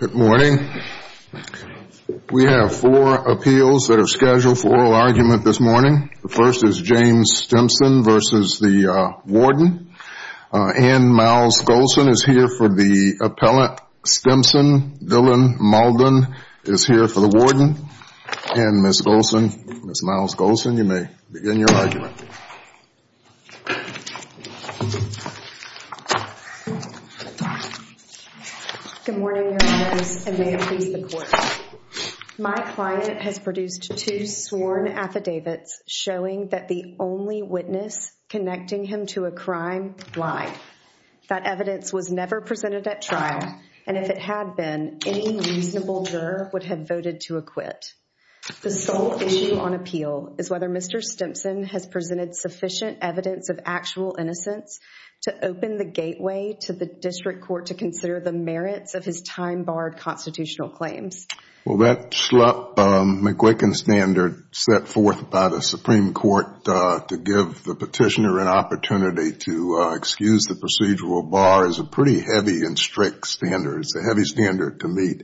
Good morning. We have four appeals that are scheduled for oral argument this morning. The first is James Stimpson v. the Warden. Ann Myles-Golson is here for the appellant. Stimpson, Dylan Maldon, is here for the Warden. And Ms. Golson, Ms. Myles-Golson, you may begin your argument. Good morning, Your Honors, and may it please the Court. My client has produced two sworn affidavits showing that the only witness connecting him to a crime lied. That evidence was never presented at trial, and if it had been, any reasonable juror would have voted to acquit. The sole issue on appeal is whether Mr. Stimpson has presented sufficient evidence of actual innocence to open the gateway to the district court to consider the merits of his time-barred constitutional claims. Well, that Schlupp-McGuicken standard set forth by the Supreme Court to give the petitioner an opportunity to excuse the procedural bar is a pretty heavy and strict standard. It's a heavy standard to meet.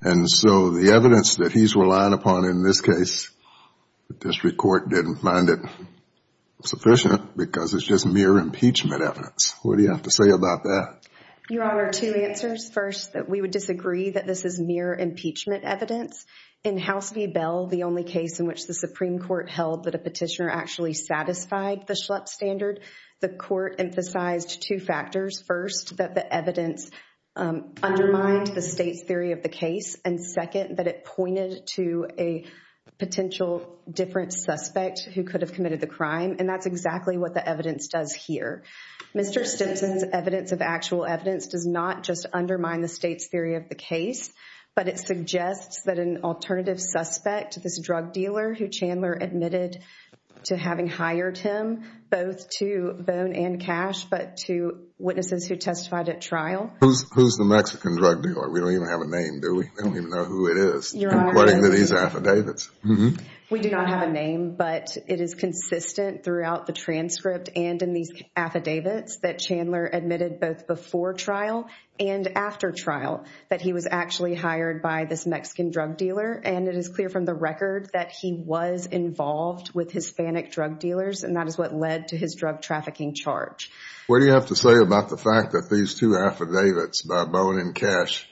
And so the evidence that he's relying upon in this case, the district court didn't find it sufficient because it's just mere impeachment evidence. What do you have to say about that? Your Honor, two answers. First, that we would disagree that this is mere impeachment evidence. In House v. Bell, the only case in which the Supreme Court held that a petitioner actually satisfied the Schlupp standard, the court emphasized two factors. First, that the evidence undermined the state's theory of the case, and second, that it pointed to a potential different suspect who could have committed the crime, and that's exactly what the evidence does here. Mr. Stimpson's evidence of actual evidence does not just undermine the state's theory of the case, but it suggests that an alternative suspect, this drug dealer who Chandler admitted to having hired him, both to Bone and Cash, but to witnesses who testified at trial. Who's the Mexican drug dealer? We don't even have a name, do we? We don't even know who it is, according to these affidavits. We do not have a name, but it is consistent throughout the transcript and in these affidavits that Chandler admitted both before trial and after trial that he was actually hired by this Mexican drug dealer, and it is clear from the record that he was involved with Hispanic drug dealers, and that is what led to his drug trafficking charge. What do you have to say about the fact that these two affidavits by Bone and Cash,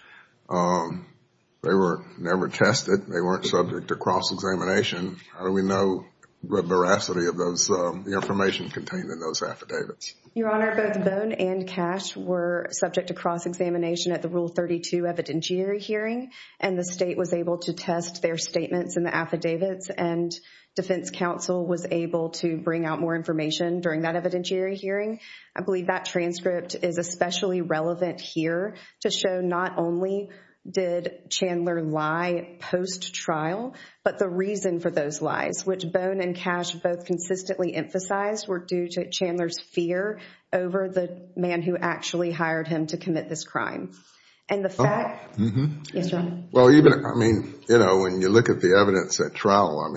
they were never tested, they weren't subject to cross-examination. How do we know the veracity of the information contained in those affidavits? Your Honor, both Bone and Cash were subject to cross-examination at the Rule 32 evidentiary hearing, and the state was able to test their statements in the affidavits, and defense counsel was able to bring out more information during that evidentiary hearing. I believe that transcript is especially relevant here to show not only did Chandler lie post-trial, but the reason for those lies, which Bone and Cash both consistently emphasized, were due to Chandler's fear over the man who actually hired him to commit this crime. When you look at the evidence at trial,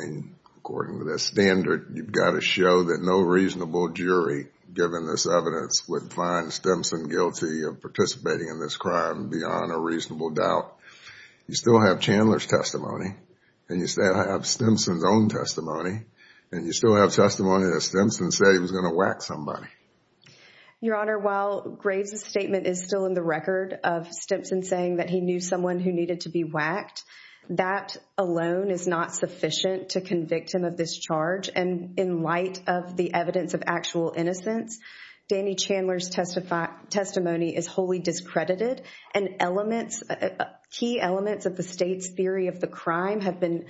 according to the standard, you've got to show that no reasonable jury, given this evidence, would find Stimson guilty of participating in this crime beyond a reasonable doubt. You still have Chandler's testimony, and you still have Stimson's own testimony, and you still have testimony that Stimson said he was going to whack somebody. Your Honor, while Graves' statement is still in the record of Stimson saying that he knew someone who needed to be whacked, that alone is not sufficient to convict him of this charge, and in light of the evidence of actual innocence, Danny Chandler's testimony is wholly discredited, and key elements of the state's theory of the crime have been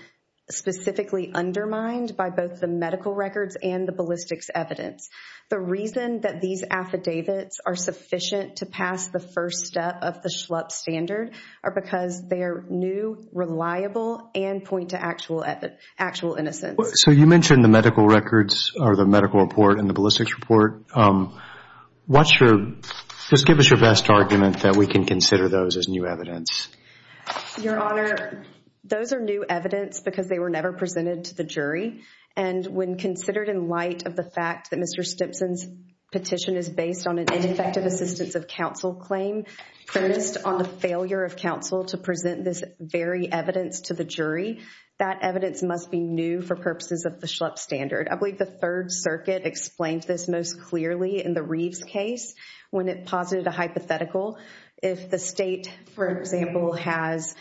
specifically undermined by both the medical records and the ballistics evidence. The reason that these affidavits are sufficient to pass the first step of the Schlupp standard are because they are new, reliable, and point to actual innocence. So you mentioned the medical records, or the medical report, and the ballistics report. What's your, just give us your best argument that we can consider those as new evidence. Your Honor, those are new evidence because they were never presented to the jury, and when considered in light of the fact that Mr. Stimson's petition is based on an ineffective assistance of counsel claim, focused on the failure of counsel to present this very evidence to the jury, that evidence must be new for purposes of the Schlupp standard. I believe the Third Circuit explained this most clearly in the Reeves case when it posited a hypothetical. If the state, for example, has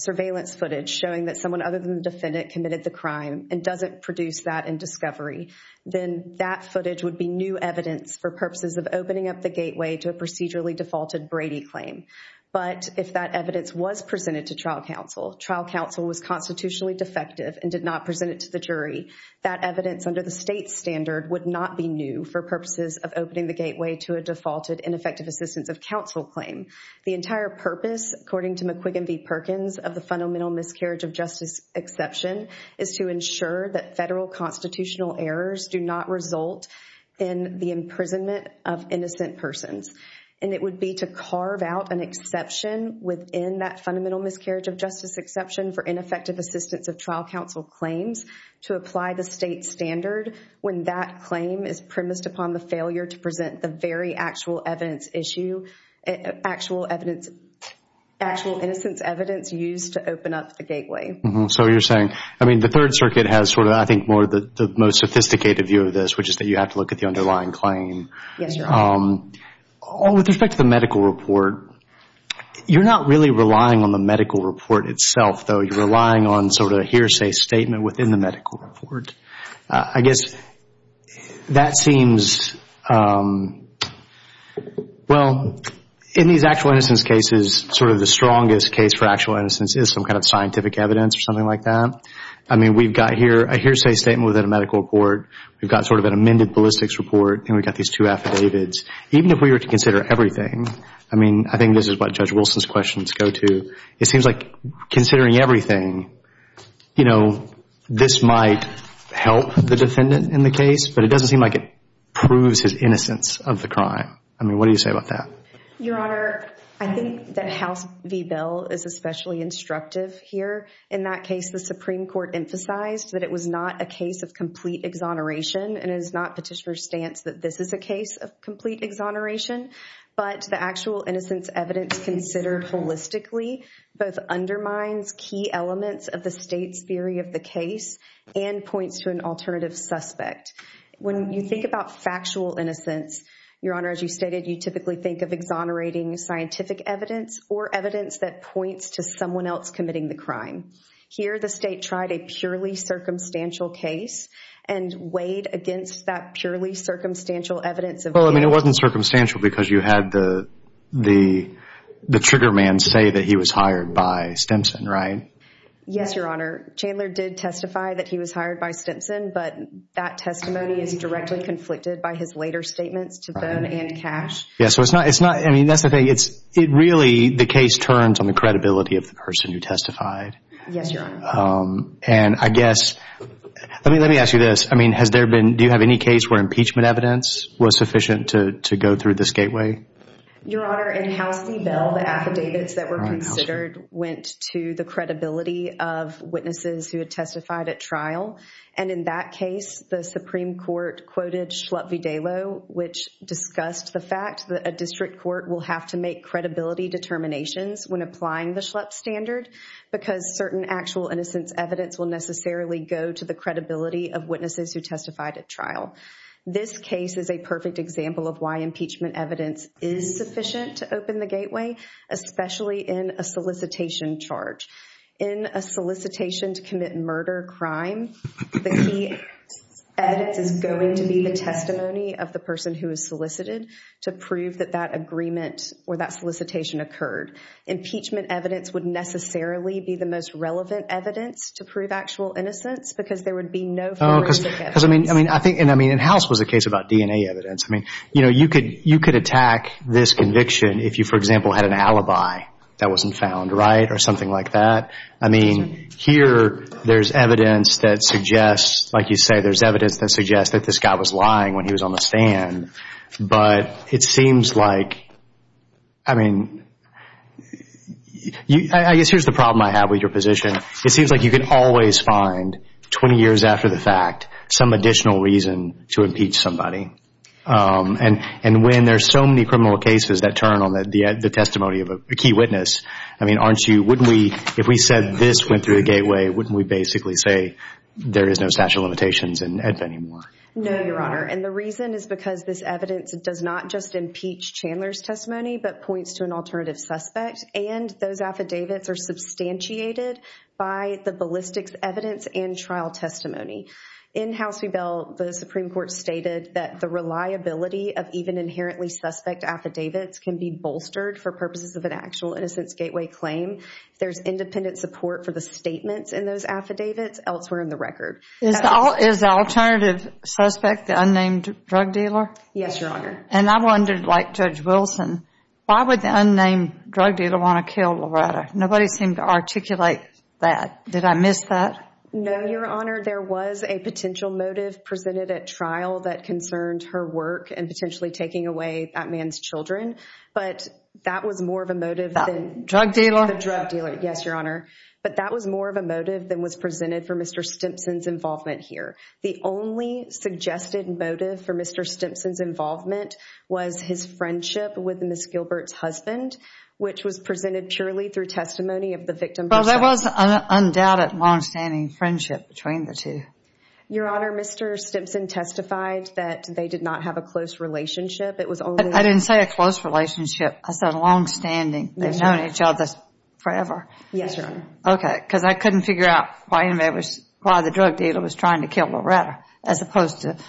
surveillance footage showing that someone other than the defendant committed the crime, and doesn't produce that in discovery, then that footage would be new evidence for purposes of opening up the gateway to a procedurally defaulted Brady claim. But if that evidence was presented to trial counsel, trial counsel was constitutionally defective and did not present it to the jury, that evidence under the state standard would not be new for purposes of opening the gateway to a defaulted ineffective assistance of counsel claim. The entire purpose, according to McQuiggan v. Perkins, of the fundamental miscarriage of justice exception is to ensure that federal constitutional errors do not result in the imprisonment of innocent persons. And it would be to carve out an exception within that fundamental miscarriage of justice exception for ineffective assistance of trial counsel claims to apply the state standard when that claim is premised upon the failure to present the very actual evidence issue, actual evidence, actual innocence evidence used to open up the gateway. So you're saying, I mean, the Third Circuit has sort of, I think, more of the most sophisticated view of this, which is that you have to look at the underlying claim. Yes, Your Honor. With respect to the medical report, you're not really relying on the medical report itself, though. You're relying on sort of a hearsay statement within the medical report. I guess that seems, well, in these actual innocence cases, sort of the strongest case for actual innocence is some kind of scientific evidence or something like that. I mean, we've got here a hearsay statement within a medical report. We've got sort of an amended ballistics report, and we've got these two affidavits. Even if we were to consider everything, I mean, I think this is what Judge Wilson's questions go to. It seems like considering everything, you know, this might help the defendant in the case, but it doesn't seem like it proves his innocence of the crime. I mean, what do you say about that? Your Honor, I think that House v. Bell is especially instructive here. In that case, the Supreme Court emphasized that it was not a case of complete exoneration, and it is not Petitioner's stance that this is a case of complete exoneration, but the actual innocence evidence considered holistically both undermines key elements of the State's theory of the case and points to an alternative suspect. When you think about factual innocence, Your Honor, as you stated, you typically think of exonerating scientific evidence or evidence that points to someone else committing the crime. Here, the State tried a purely circumstantial case and weighed against that purely circumstantial evidence. Well, I mean, it wasn't circumstantial because you had the trigger man say that he was hired by Stimson, right? Yes, Your Honor. Chandler did testify that he was hired by Stimson, but that testimony is directly conflicted by his later statements to Bohn and Cash. Yes, so it's not – I mean, that's the thing. It really – the case turns on the credibility of the person who testified. Yes, Your Honor. And I guess – let me ask you this. I mean, has there been – do you have any case where impeachment evidence was sufficient to go through this gateway? Your Honor, in House v. Bell, the affidavits that were considered went to the credibility of witnesses who had testified at trial. And in that case, the Supreme Court quoted Schlupp v. Dalo, which discussed the fact that a district court will have to make credibility determinations when applying the Schlupp standard because certain actual innocence evidence will necessarily go to the credibility of witnesses who testified at trial. This case is a perfect example of why impeachment evidence is sufficient to open the gateway, especially in a solicitation charge. In a solicitation to commit murder or crime, the key evidence is going to be the testimony of the person who is solicited to prove that that agreement or that solicitation occurred. Impeachment evidence would necessarily be the most relevant evidence to prove actual innocence because there would be no forensic evidence. Because, I mean, I think – and I mean, in House was a case about DNA evidence. I mean, you know, you could attack this conviction if you, for example, had an alibi that wasn't found right or something like that. I mean, here there's evidence that suggests – like you say, there's evidence that suggests that this guy was lying when he was on the stand. But it seems like – I mean, I guess here's the problem I have with your position. It seems like you can always find, 20 years after the fact, some additional reason to impeach somebody. And when there's so many criminal cases that turn on the testimony of a key witness, I mean, aren't you – wouldn't we – if we said this went through the gateway, wouldn't we basically say there is no statute of limitations anymore? No, Your Honor. And the reason is because this evidence does not just impeach Chandler's testimony but points to an alternative suspect. And those affidavits are substantiated by the ballistics evidence and trial testimony. In House v. Bell, the Supreme Court stated that the reliability of even inherently suspect affidavits can be bolstered for purposes of an actual innocence gateway claim. There's independent support for the statements in those affidavits elsewhere in the record. Is the alternative suspect the unnamed drug dealer? Yes, Your Honor. And I wondered, like Judge Wilson, why would the unnamed drug dealer want to kill Loretta? Nobody seemed to articulate that. Did I miss that? No, Your Honor. There was a potential motive presented at trial that concerned her work and potentially taking away that man's children. But that was more of a motive than – That drug dealer? The drug dealer, yes, Your Honor. But that was more of a motive than was presented for Mr. Stimpson's involvement here. The only suggested motive for Mr. Stimpson's involvement was his friendship with Ms. Gilbert's husband, which was presented purely through testimony of the victim herself. Well, there was an undoubted longstanding friendship between the two. Your Honor, Mr. Stimpson testified that they did not have a close relationship. It was only – I didn't say a close relationship. I said longstanding. They've known each other forever. Yes, Your Honor. Okay, because I couldn't figure out why the drug dealer was trying to kill Loretta as opposed to –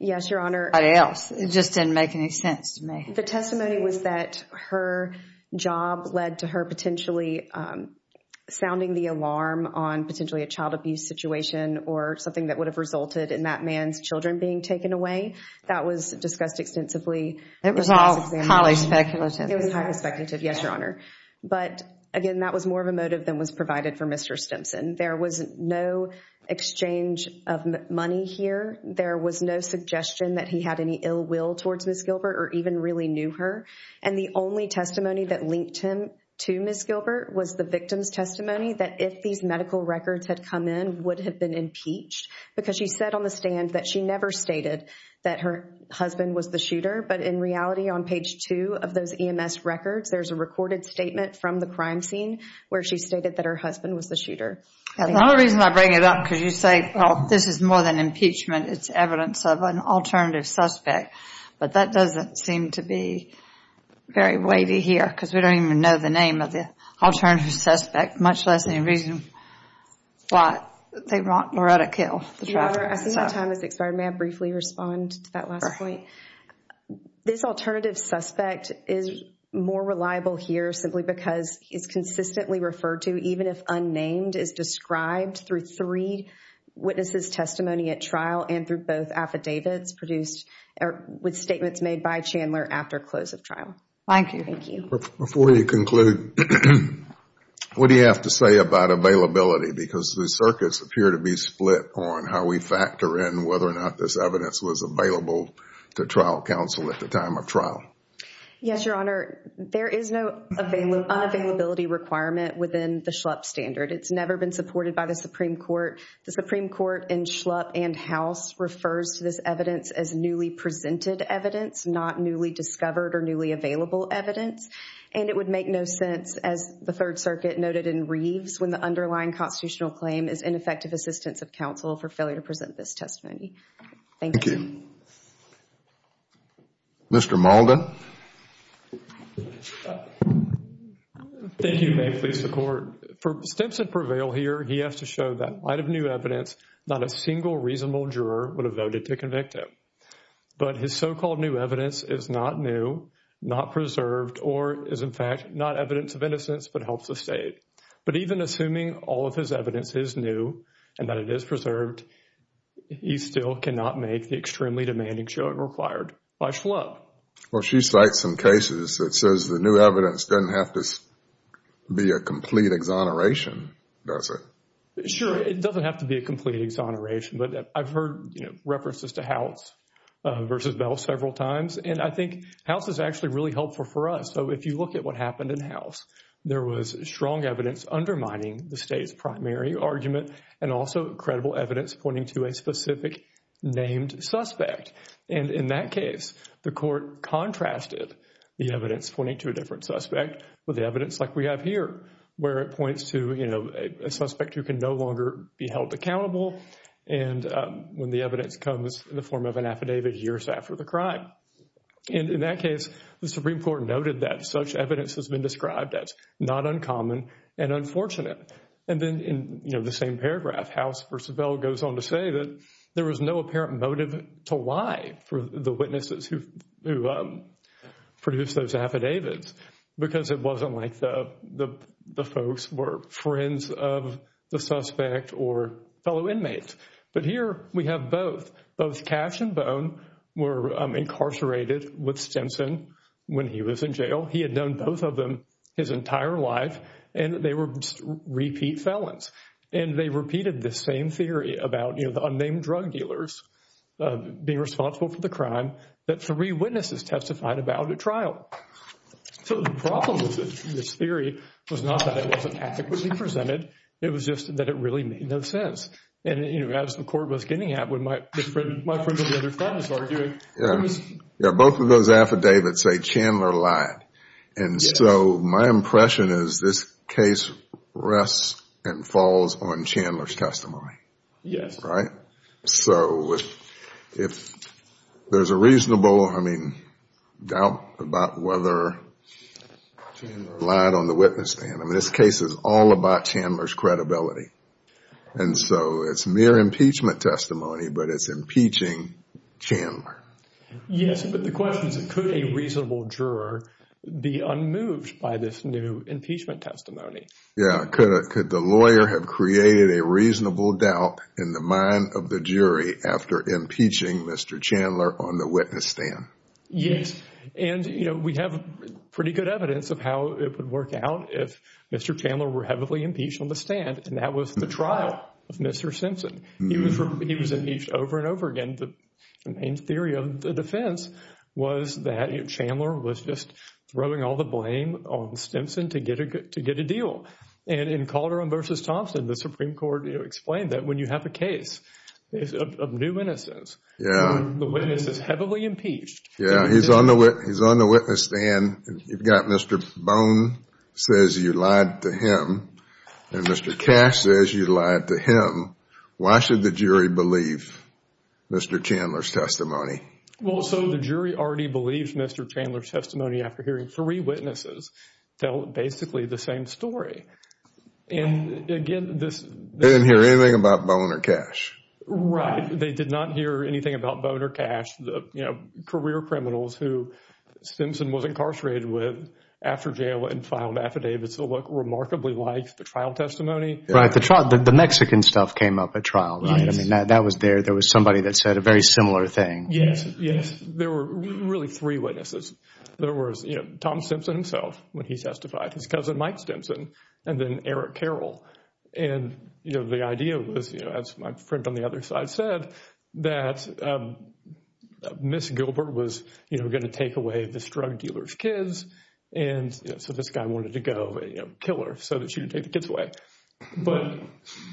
Yes, Your Honor. – anybody else. It just didn't make any sense to me. The testimony was that her job led to her potentially sounding the alarm on potentially a child abuse situation or something that would have resulted in that man's children being taken away. That was discussed extensively. It was all highly speculative. It was highly speculative, yes, Your Honor. But, again, that was more of a motive than was provided for Mr. Stimpson. There was no exchange of money here. There was no suggestion that he had any ill will towards Ms. Gilbert or even really knew her. And the only testimony that linked him to Ms. Gilbert was the victim's testimony that if these medical records had come in, would have been impeached because she said on the stand that she never stated that her husband was the shooter. But, in reality, on page two of those EMS records, there's a recorded statement from the crime scene where she stated that her husband was the shooter. The only reason I bring it up because you say, well, this is more than impeachment. It's evidence of an alternative suspect. But that doesn't seem to be very weighty here because we don't even know the name of the alternative suspect, much less any reason why they want Loretta killed. Your Honor, I see that time has expired. May I briefly respond to that last point? This alternative suspect is more reliable here simply because he's consistently referred to, even if unnamed, is described through three witnesses' testimony at trial and through both affidavits produced with statements made by Chandler after close of trial. Thank you. Before you conclude, what do you have to say about availability? Because the circuits appear to be split on how we factor in whether or not this evidence was available to trial counsel at the time of trial. Yes, Your Honor. There is no unavailability requirement within the Schlupp standard. It's never been supported by the Supreme Court. The Supreme Court in Schlupp and House refers to this evidence as newly presented evidence, not newly discovered or newly available evidence. And it would make no sense, as the Third Circuit noted in Reeves, when the underlying constitutional claim is ineffective assistance of counsel for failure to present this testimony. Thank you. Thank you. Mr. Mauldin. Thank you. May it please the Court. For Stimson Prevail here, he has to show that light of new evidence, not a single reasonable juror would have voted to convict him. But his so-called new evidence is not new, not preserved, or is, in fact, not evidence of innocence but helps the state. But even assuming all of his evidence is new and that it is preserved, he still cannot make the extremely demanding showing required by Schlupp. Well, she cites some cases that says the new evidence doesn't have to be a complete exoneration, does it? Sure, it doesn't have to be a complete exoneration. But I've heard references to House v. Bell several times, and I think House is actually really helpful for us. So if you look at what happened in House, there was strong evidence undermining the state's primary argument and also credible evidence pointing to a specific named suspect. And in that case, the Court contrasted the evidence pointing to a different suspect with evidence like we have here where it points to a suspect who can no longer be held accountable when the evidence comes in the form of an affidavit years after the crime. And in that case, the Supreme Court noted that such evidence has been described as not uncommon and unfortunate. And then in the same paragraph, House v. Bell goes on to say that there was no apparent motive to lie for the witnesses who produced those affidavits because it wasn't like the folks were friends of the suspect or fellow inmates. But here we have both. Both Cash and Bone were incarcerated with Stimson when he was in jail. He had known both of them his entire life, and they were repeat felons. And they repeated this same theory about the unnamed drug dealers being responsible for the crime that three witnesses testified about at trial. So the problem with this theory was not that it wasn't adequately presented. It was just that it really made no sense. And, you know, as the Court was getting at when my friend of the other friend was arguing. Yeah, both of those affidavits say Chandler lied. And so my impression is this case rests and falls on Chandler's testimony. Yes. Right? So if there's a reasonable, I mean, doubt about whether Chandler lied on the witness stand. I mean, this case is all about Chandler's credibility. And so it's mere impeachment testimony, but it's impeaching Chandler. Yes, but the question is could a reasonable juror be unmoved by this new impeachment testimony? Yeah, could the lawyer have created a reasonable doubt in the mind of the jury after impeaching Mr. Chandler on the witness stand? Yes. And, you know, we have pretty good evidence of how it would work out if Mr. Chandler were heavily impeached on the stand. And that was the trial of Mr. Simpson. He was impeached over and over again. And the main theory of the defense was that Chandler was just throwing all the blame on Simpson to get a deal. And in Calderon v. Thompson, the Supreme Court explained that when you have a case of new innocence, the witness is heavily impeached. Yeah, he's on the witness stand. You've got Mr. Bone says you lied to him. And Mr. Cash says you lied to him. Why should the jury believe Mr. Chandler's testimony? Well, so the jury already believes Mr. Chandler's testimony after hearing three witnesses tell basically the same story. And, again, this— They didn't hear anything about Bone or Cash. Right. They did not hear anything about Bone or Cash, you know, career criminals who Simpson was incarcerated with after jail and filed affidavits that look remarkably like the trial testimony. Right. The Mexican stuff came up at trial, right? I mean, that was there. There was somebody that said a very similar thing. Yes, yes. There were really three witnesses. There was, you know, Tom Simpson himself when he testified, his cousin Mike Simpson, and then Eric Carroll. And, you know, the idea was, you know, as my friend on the other side said, that Ms. Gilbert was, you know, going to take away this drug dealer's kids. And, you know, so this guy wanted to go, you know, kill her so that she would take the kids away. But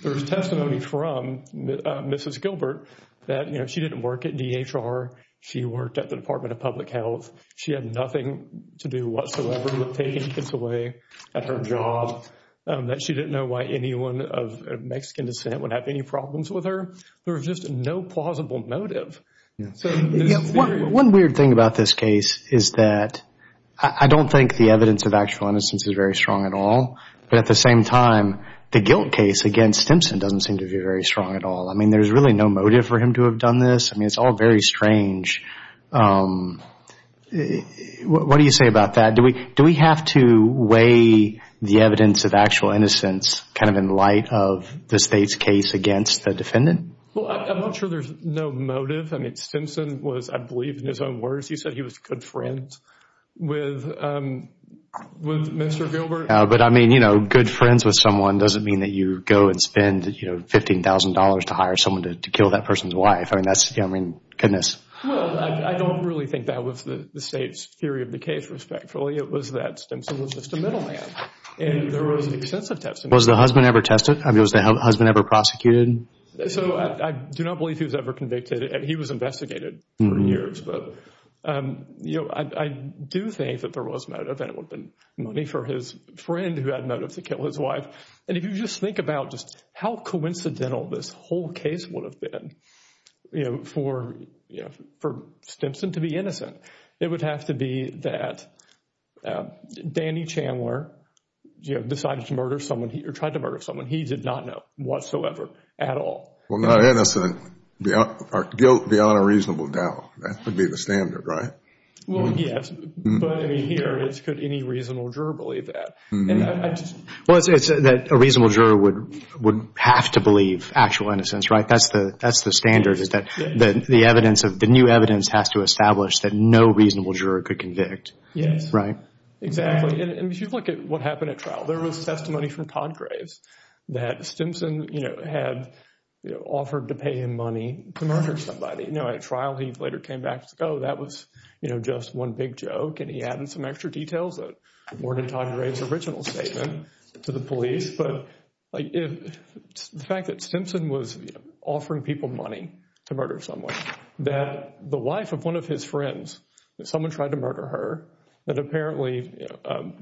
there was testimony from Mrs. Gilbert that, you know, she didn't work at DHR. She worked at the Department of Public Health. She had nothing to do whatsoever with taking kids away at her job, that she didn't know why anyone of Mexican descent would have any problems with her. There was just no plausible motive. One weird thing about this case is that I don't think the evidence of actual innocence is very strong at all. But at the same time, the guilt case against Simpson doesn't seem to be very strong at all. I mean, there's really no motive for him to have done this. I mean, it's all very strange. What do you say about that? Do we have to weigh the evidence of actual innocence kind of in light of the State's case against the defendant? Well, I'm not sure there's no motive. I mean, Simpson was, I believe, in his own words, he said he was good friends with Mr. Gilbert. But, I mean, you know, good friends with someone doesn't mean that you go and spend, you know, $15,000 to hire someone to kill that person's wife. I mean, that's, you know, I mean, goodness. Well, I don't really think that was the State's theory of the case, respectfully. It was that Simpson was just a middleman. And there was extensive testimony. Was the husband ever tested? I mean, was the husband ever prosecuted? So I do not believe he was ever convicted. He was investigated for years. But, you know, I do think that there was motive and it would have been money for his friend who had motive to kill his wife. And if you just think about just how coincidental this whole case would have been, you know, for Simpson to be innocent, it would have to be that Danny Chandler, you know, decided to murder someone or tried to murder someone he did not know whatsoever at all. Well, not innocent. Guilt beyond a reasonable doubt. That would be the standard, right? Well, yes. But, I mean, here, could any reasonable juror believe that? Well, it's that a reasonable juror would have to believe actual innocence, right? That's the standard is that the evidence of the new evidence has to establish that no reasonable juror could convict. Yes. Right? Exactly. And if you look at what happened at trial, there was testimony from Todd Graves that Simpson, you know, had offered to pay him money to murder somebody. You know, at trial, he later came back and said, oh, that was, you know, just one big joke. And he added some extra details that weren't in Todd Graves' original statement to the police. But the fact that Simpson was offering people money to murder someone, that the wife of one of his friends, that someone tried to murder her, that apparently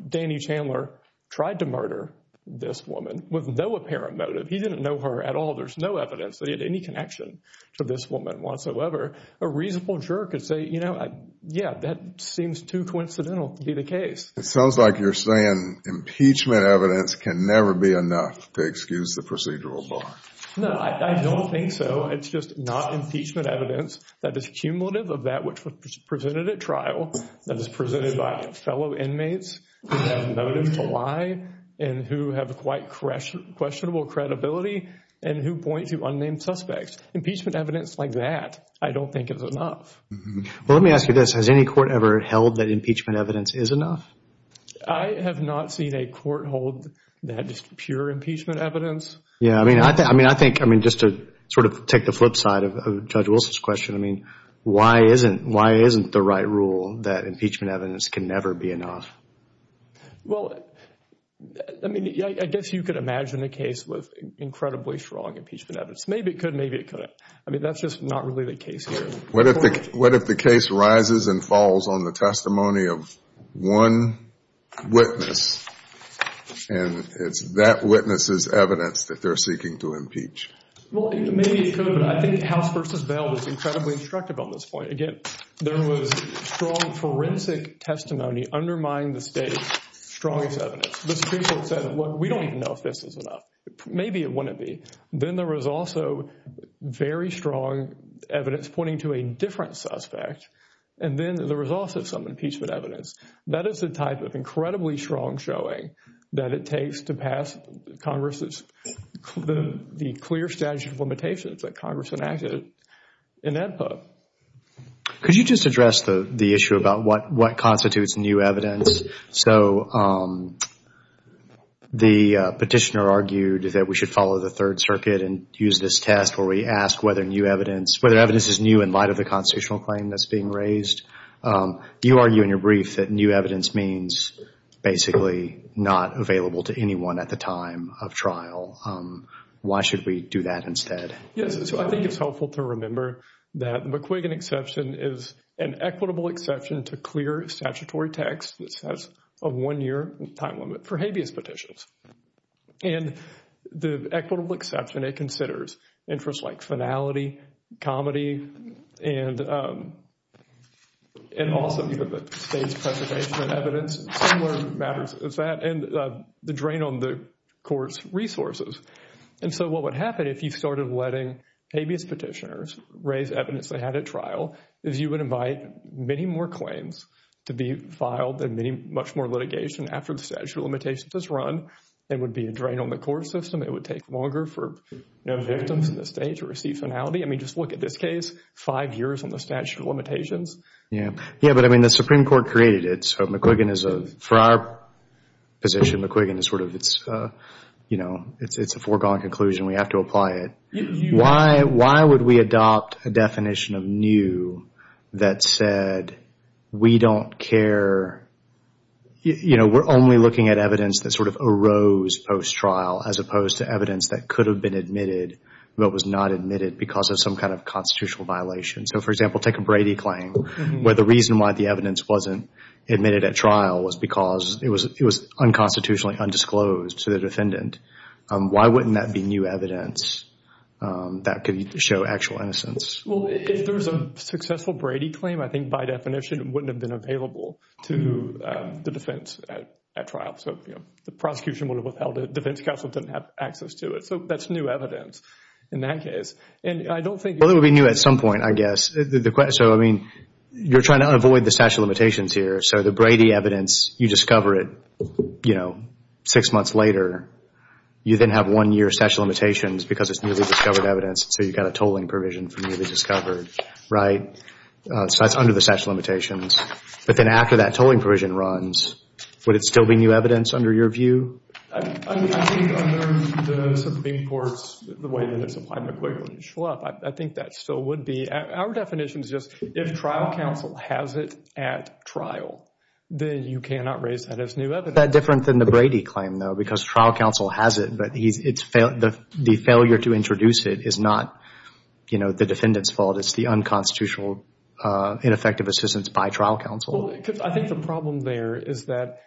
Danny Chandler tried to murder this woman with no apparent motive. He didn't know her at all. There's no evidence that he had any connection to this woman whatsoever. A reasonable juror could say, you know, yeah, that seems too coincidental to be the case. It sounds like you're saying impeachment evidence can never be enough to excuse the procedural bar. No, I don't think so. It's just not impeachment evidence that is cumulative of that which was presented at trial, that is presented by fellow inmates who have motive to lie and who have quite questionable credibility and who point to unnamed suspects. Impeachment evidence like that, I don't think is enough. Well, let me ask you this. Has any court ever held that impeachment evidence is enough? I have not seen a court hold that just pure impeachment evidence. Yeah, I mean, I think, I mean, just to sort of take the flip side of Judge Wilson's question. I mean, why isn't, why isn't the right rule that impeachment evidence can never be enough? Well, I mean, I guess you could imagine a case with incredibly strong impeachment evidence. Maybe it could, maybe it couldn't. I mean, that's just not really the case here. What if the case rises and falls on the testimony of one witness and it's that witness's evidence that they're seeking to impeach? Well, maybe it could, but I think House v. Bell was incredibly instructive on this point. Again, there was strong forensic testimony undermining the state's strongest evidence. The Supreme Court said, look, we don't even know if this is enough. Maybe it wouldn't be. Then there was also very strong evidence pointing to a different suspect. And then there was also some impeachment evidence. That is the type of incredibly strong showing that it takes to pass Congress's, the clear statute of limitations that Congress enacted in that book. Could you just address the issue about what constitutes new evidence? So the petitioner argued that we should follow the Third Circuit and use this test where we ask whether new evidence, whether evidence is new in light of the constitutional claim that's being raised. You argue in your brief that new evidence means basically not available to anyone at the time of trial. Why should we do that instead? Yes. So I think it's helpful to remember that McQuiggan exception is an equitable exception to clear statutory text. This has a one year time limit for habeas petitions. And the equitable exception, it considers interests like finality, comedy, and also the state's preservation of evidence. Similar matters as that and the drain on the court's resources. And so what would happen if you started letting habeas petitioners raise evidence they had at trial, is you would invite many more claims to be filed and much more litigation after the statute of limitations is run. It would be a drain on the court system. It would take longer for victims in the state to receive finality. I mean, just look at this case, five years on the statute of limitations. Yeah, but I mean, the Supreme Court created it. So McQuiggan is, for our position, McQuiggan is sort of, it's a foregone conclusion. We have to apply it. Why would we adopt a definition of new that said we don't care, you know, we're only looking at evidence that sort of arose post-trial as opposed to evidence that could have been admitted but was not admitted because of some kind of constitutional violation. So, for example, take a Brady claim where the reason why the evidence wasn't admitted at trial was because it was unconstitutionally undisclosed to the defendant. Why wouldn't that be new evidence that could show actual innocence? Well, if there was a successful Brady claim, I think by definition it wouldn't have been available to the defense at trial. So, you know, the prosecution would have withheld it. Defense counsel didn't have access to it. So that's new evidence in that case. Well, it would be new at some point, I guess. So, I mean, you're trying to avoid the statute of limitations here. So the Brady evidence, you discover it, you know, six months later. You then have one-year statute of limitations because it's newly discovered evidence. So you've got a tolling provision for newly discovered, right? So that's under the statute of limitations. But then after that tolling provision runs, would it still be new evidence under your view? I think under the Supreme Court's, the way that it's applied to Quigley and Shlup, I think that still would be. Our definition is just if trial counsel has it at trial, then you cannot raise that as new evidence. That's different than the Brady claim, though, because trial counsel has it. But the failure to introduce it is not, you know, the defendant's fault. It's the unconstitutional ineffective assistance by trial counsel. I think the problem there is that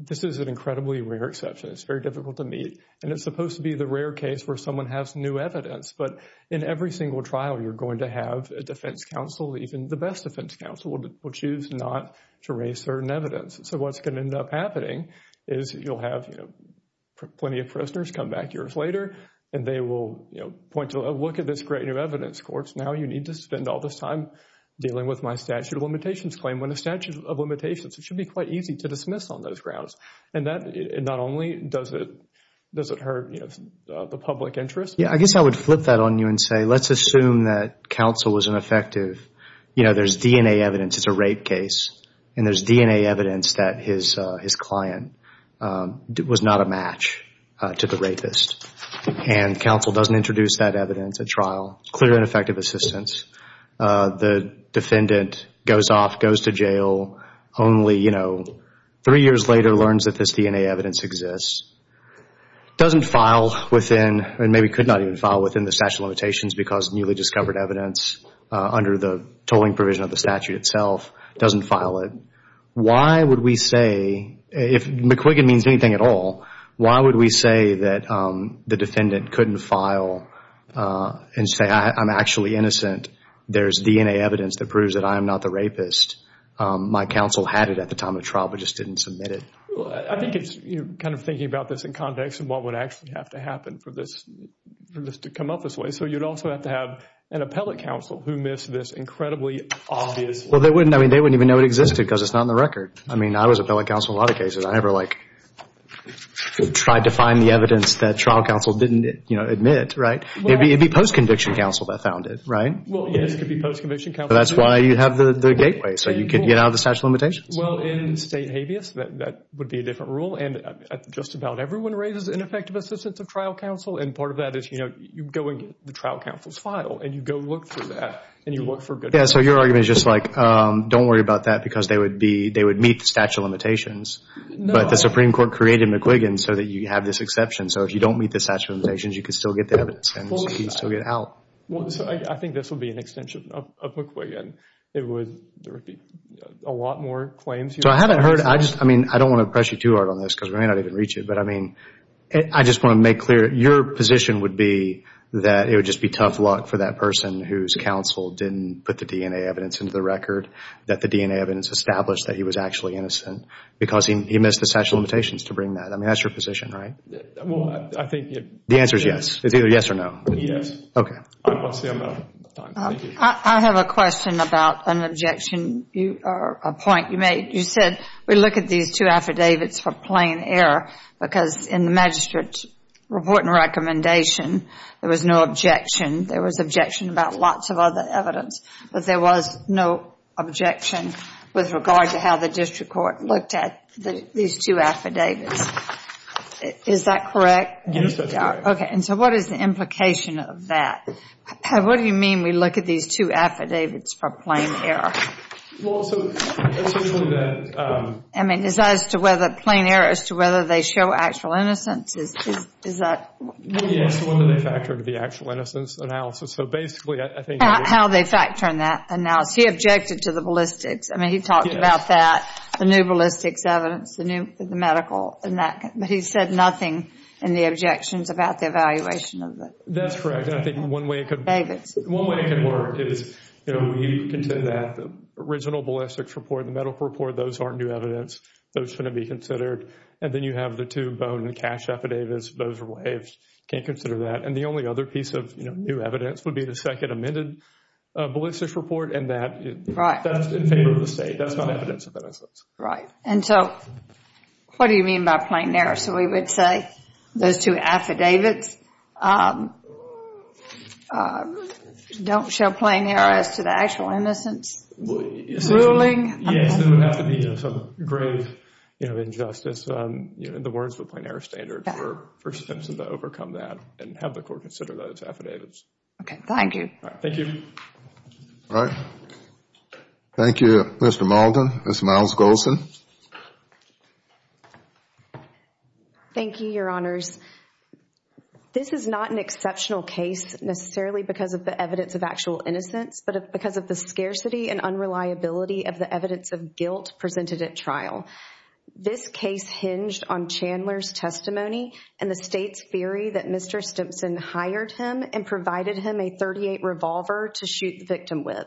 this is an incredibly rare exception. It's very difficult to meet. And it's supposed to be the rare case where someone has new evidence. But in every single trial, you're going to have a defense counsel, even the best defense counsel, will choose not to raise certain evidence. So what's going to end up happening is you'll have plenty of prisoners come back years later. And they will point to a look at this great new evidence. Now you need to spend all this time dealing with my statute of limitations claim. When a statute of limitations, it should be quite easy to dismiss on those grounds. And that not only does it hurt, you know, the public interest. I guess I would flip that on you and say let's assume that counsel was ineffective. You know, there's DNA evidence. It's a rape case. And there's DNA evidence that his client was not a match to the rapist. And counsel doesn't introduce that evidence at trial. Clear and effective assistance. The defendant goes off, goes to jail, only, you know, three years later learns that this DNA evidence exists. Doesn't file within, and maybe could not even file within the statute of limitations because newly discovered evidence under the tolling provision of the statute itself. Doesn't file it. Why would we say, if McQuiggan means anything at all, why would we say that the defendant couldn't file and say I'm actually innocent? There's DNA evidence that proves that I'm not the rapist. My counsel had it at the time of trial but just didn't submit it. I think it's kind of thinking about this in context of what would actually have to happen for this to come up this way. So you'd also have to have an appellate counsel who missed this incredibly obvious. Well, they wouldn't, I mean, they wouldn't even know it existed because it's not in the record. I mean, I was appellate counsel in a lot of cases. I never, like, tried to find the evidence that trial counsel didn't, you know, admit, right? It'd be post-conviction counsel that found it, right? Well, yes, it could be post-conviction counsel. That's why you have the gateway, so you can get out of the statute of limitations. Well, in state habeas, that would be a different rule. And just about everyone raises ineffective assistance of trial counsel. And part of that is, you know, you go and get the trial counsel's file and you go look for that and you look for good evidence. Yeah, so your argument is just, like, don't worry about that because they would meet the statute of limitations. But the Supreme Court created McQuiggan so that you have this exception. So if you don't meet the statute of limitations, you can still get the evidence and you can still get out. I think this would be an extension of McQuiggan. There would be a lot more claims. So I haven't heard, I just, I mean, I don't want to press you too hard on this because we may not even reach it. But, I mean, I just want to make clear, your position would be that it would just be tough luck for that person whose counsel didn't put the DNA evidence into the record, that the DNA evidence established that he was actually innocent because he missed the statute of limitations to bring that. I mean, that's your position, right? Well, I think it. The answer is yes. It's either yes or no. Yes. Okay. I have a question about an objection, a point you made. You said we look at these two affidavits for plain error because in the magistrate's report and recommendation, there was no objection. There was objection about lots of other evidence, but there was no objection with regard to how the district court looked at these two affidavits. Is that correct? Yes, that's correct. Okay. And so what is the implication of that? What do you mean we look at these two affidavits for plain error? Well, so essentially that. I mean, is that as to whether plain error as to whether they show actual innocence? Yes. When do they factor into the actual innocence analysis? So basically I think. How they factor in that analysis. He objected to the ballistics. I mean, he talked about that, the new ballistics evidence, the medical. But he said nothing in the objections about the evaluation of it. That's correct. And I think one way it could work is, you know, you can take that original ballistics report, the medical report. Those aren't new evidence. Those shouldn't be considered. And then you have the two bone and cash affidavits. Those are waived. Can't consider that. And the only other piece of new evidence would be the second amended ballistics report. And that's in favor of the state. That's not evidence of innocence. Right. And so what do you mean by plain error? So we would say those two affidavits don't show plain error as to the actual innocence ruling? Yes, there would have to be some grave, you know, injustice. The words were plain error standard for Simpson to overcome that and have the court consider those affidavits. Okay. Thank you. Thank you. All right. Thank you, Mr. Malden. Ms. Myles-Golson. Thank you, Your Honors. This is not an exceptional case necessarily because of the evidence of actual innocence, but because of the scarcity and unreliability of the evidence of guilt presented at trial. This case hinged on Chandler's testimony and the state's theory that Mr. Simpson hired him and provided him a .38 revolver to shoot the victim with.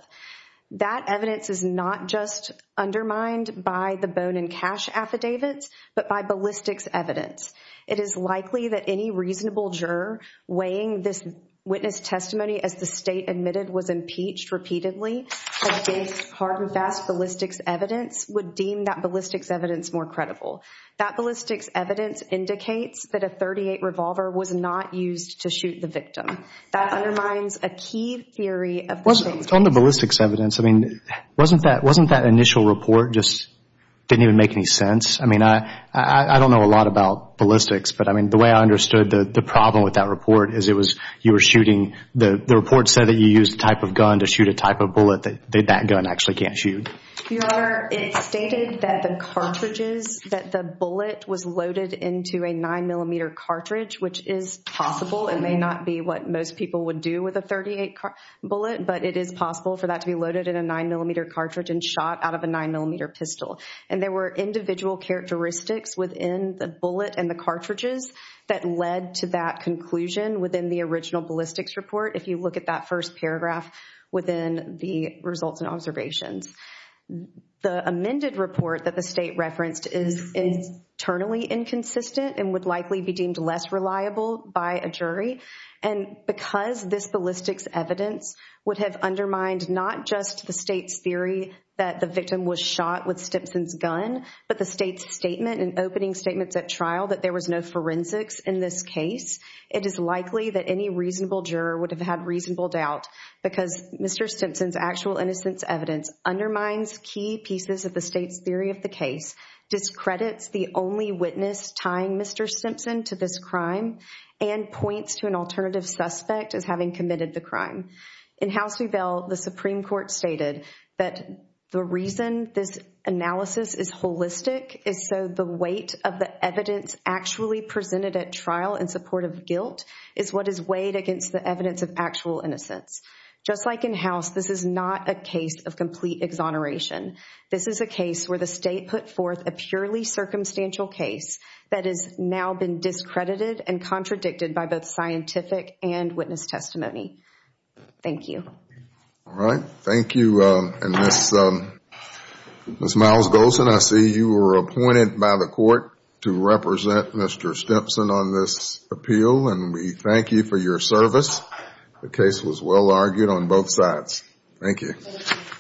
That evidence is not just undermined by the bone and cash affidavits, but by ballistics evidence. It is likely that any reasonable juror weighing this witness testimony as the state admitted was impeached repeatedly against hard and fast ballistics evidence would deem that ballistics evidence more credible. That ballistics evidence indicates that a .38 revolver was not used to shoot the victim. That undermines a key theory of the state. On the ballistics evidence, I mean, wasn't that initial report just didn't even make any sense? I mean, I don't know a lot about ballistics, but I mean, the way I understood the problem with that report is it was you were shooting, the report said that you used a type of gun to shoot a type of bullet that that gun actually can't shoot. Your Honor, it stated that the cartridges, that the bullet was loaded into a 9mm cartridge, which is possible and may not be what most people would do with a .38 bullet, but it is possible for that to be loaded in a 9mm cartridge and shot out of a 9mm pistol. And there were individual characteristics within the bullet and the cartridges that led to that conclusion within the original ballistics report if you look at that first paragraph within the results and observations. The amended report that the state referenced is internally inconsistent and would likely be deemed less reliable by a jury. And because this ballistics evidence would have undermined not just the state's theory that the victim was shot with Stimson's gun, but the state's statement and opening statements at trial that there was no forensics in this case, it is likely that any reasonable juror would have had reasonable doubt because Mr. Stimson's actual innocence evidence undermines key pieces of the state's theory of the case, discredits the only witness tying Mr. Stimson to this crime, and points to an alternative suspect as having committed the crime. In House Rebell, the Supreme Court stated that the reason this analysis is holistic is so the weight of the evidence actually presented at trial in support of guilt is what is weighed against the evidence of actual innocence. Just like in House, this is not a case of complete exoneration. This is a case where the state put forth a purely circumstantial case that has now been discredited and contradicted by both scientific and witness testimony. Thank you. All right. Thank you. And Ms. Miles-Golson, I see you were appointed by the court to represent Mr. Stimson on this appeal, and we thank you for your service. The case was well argued on both sides. Thank you.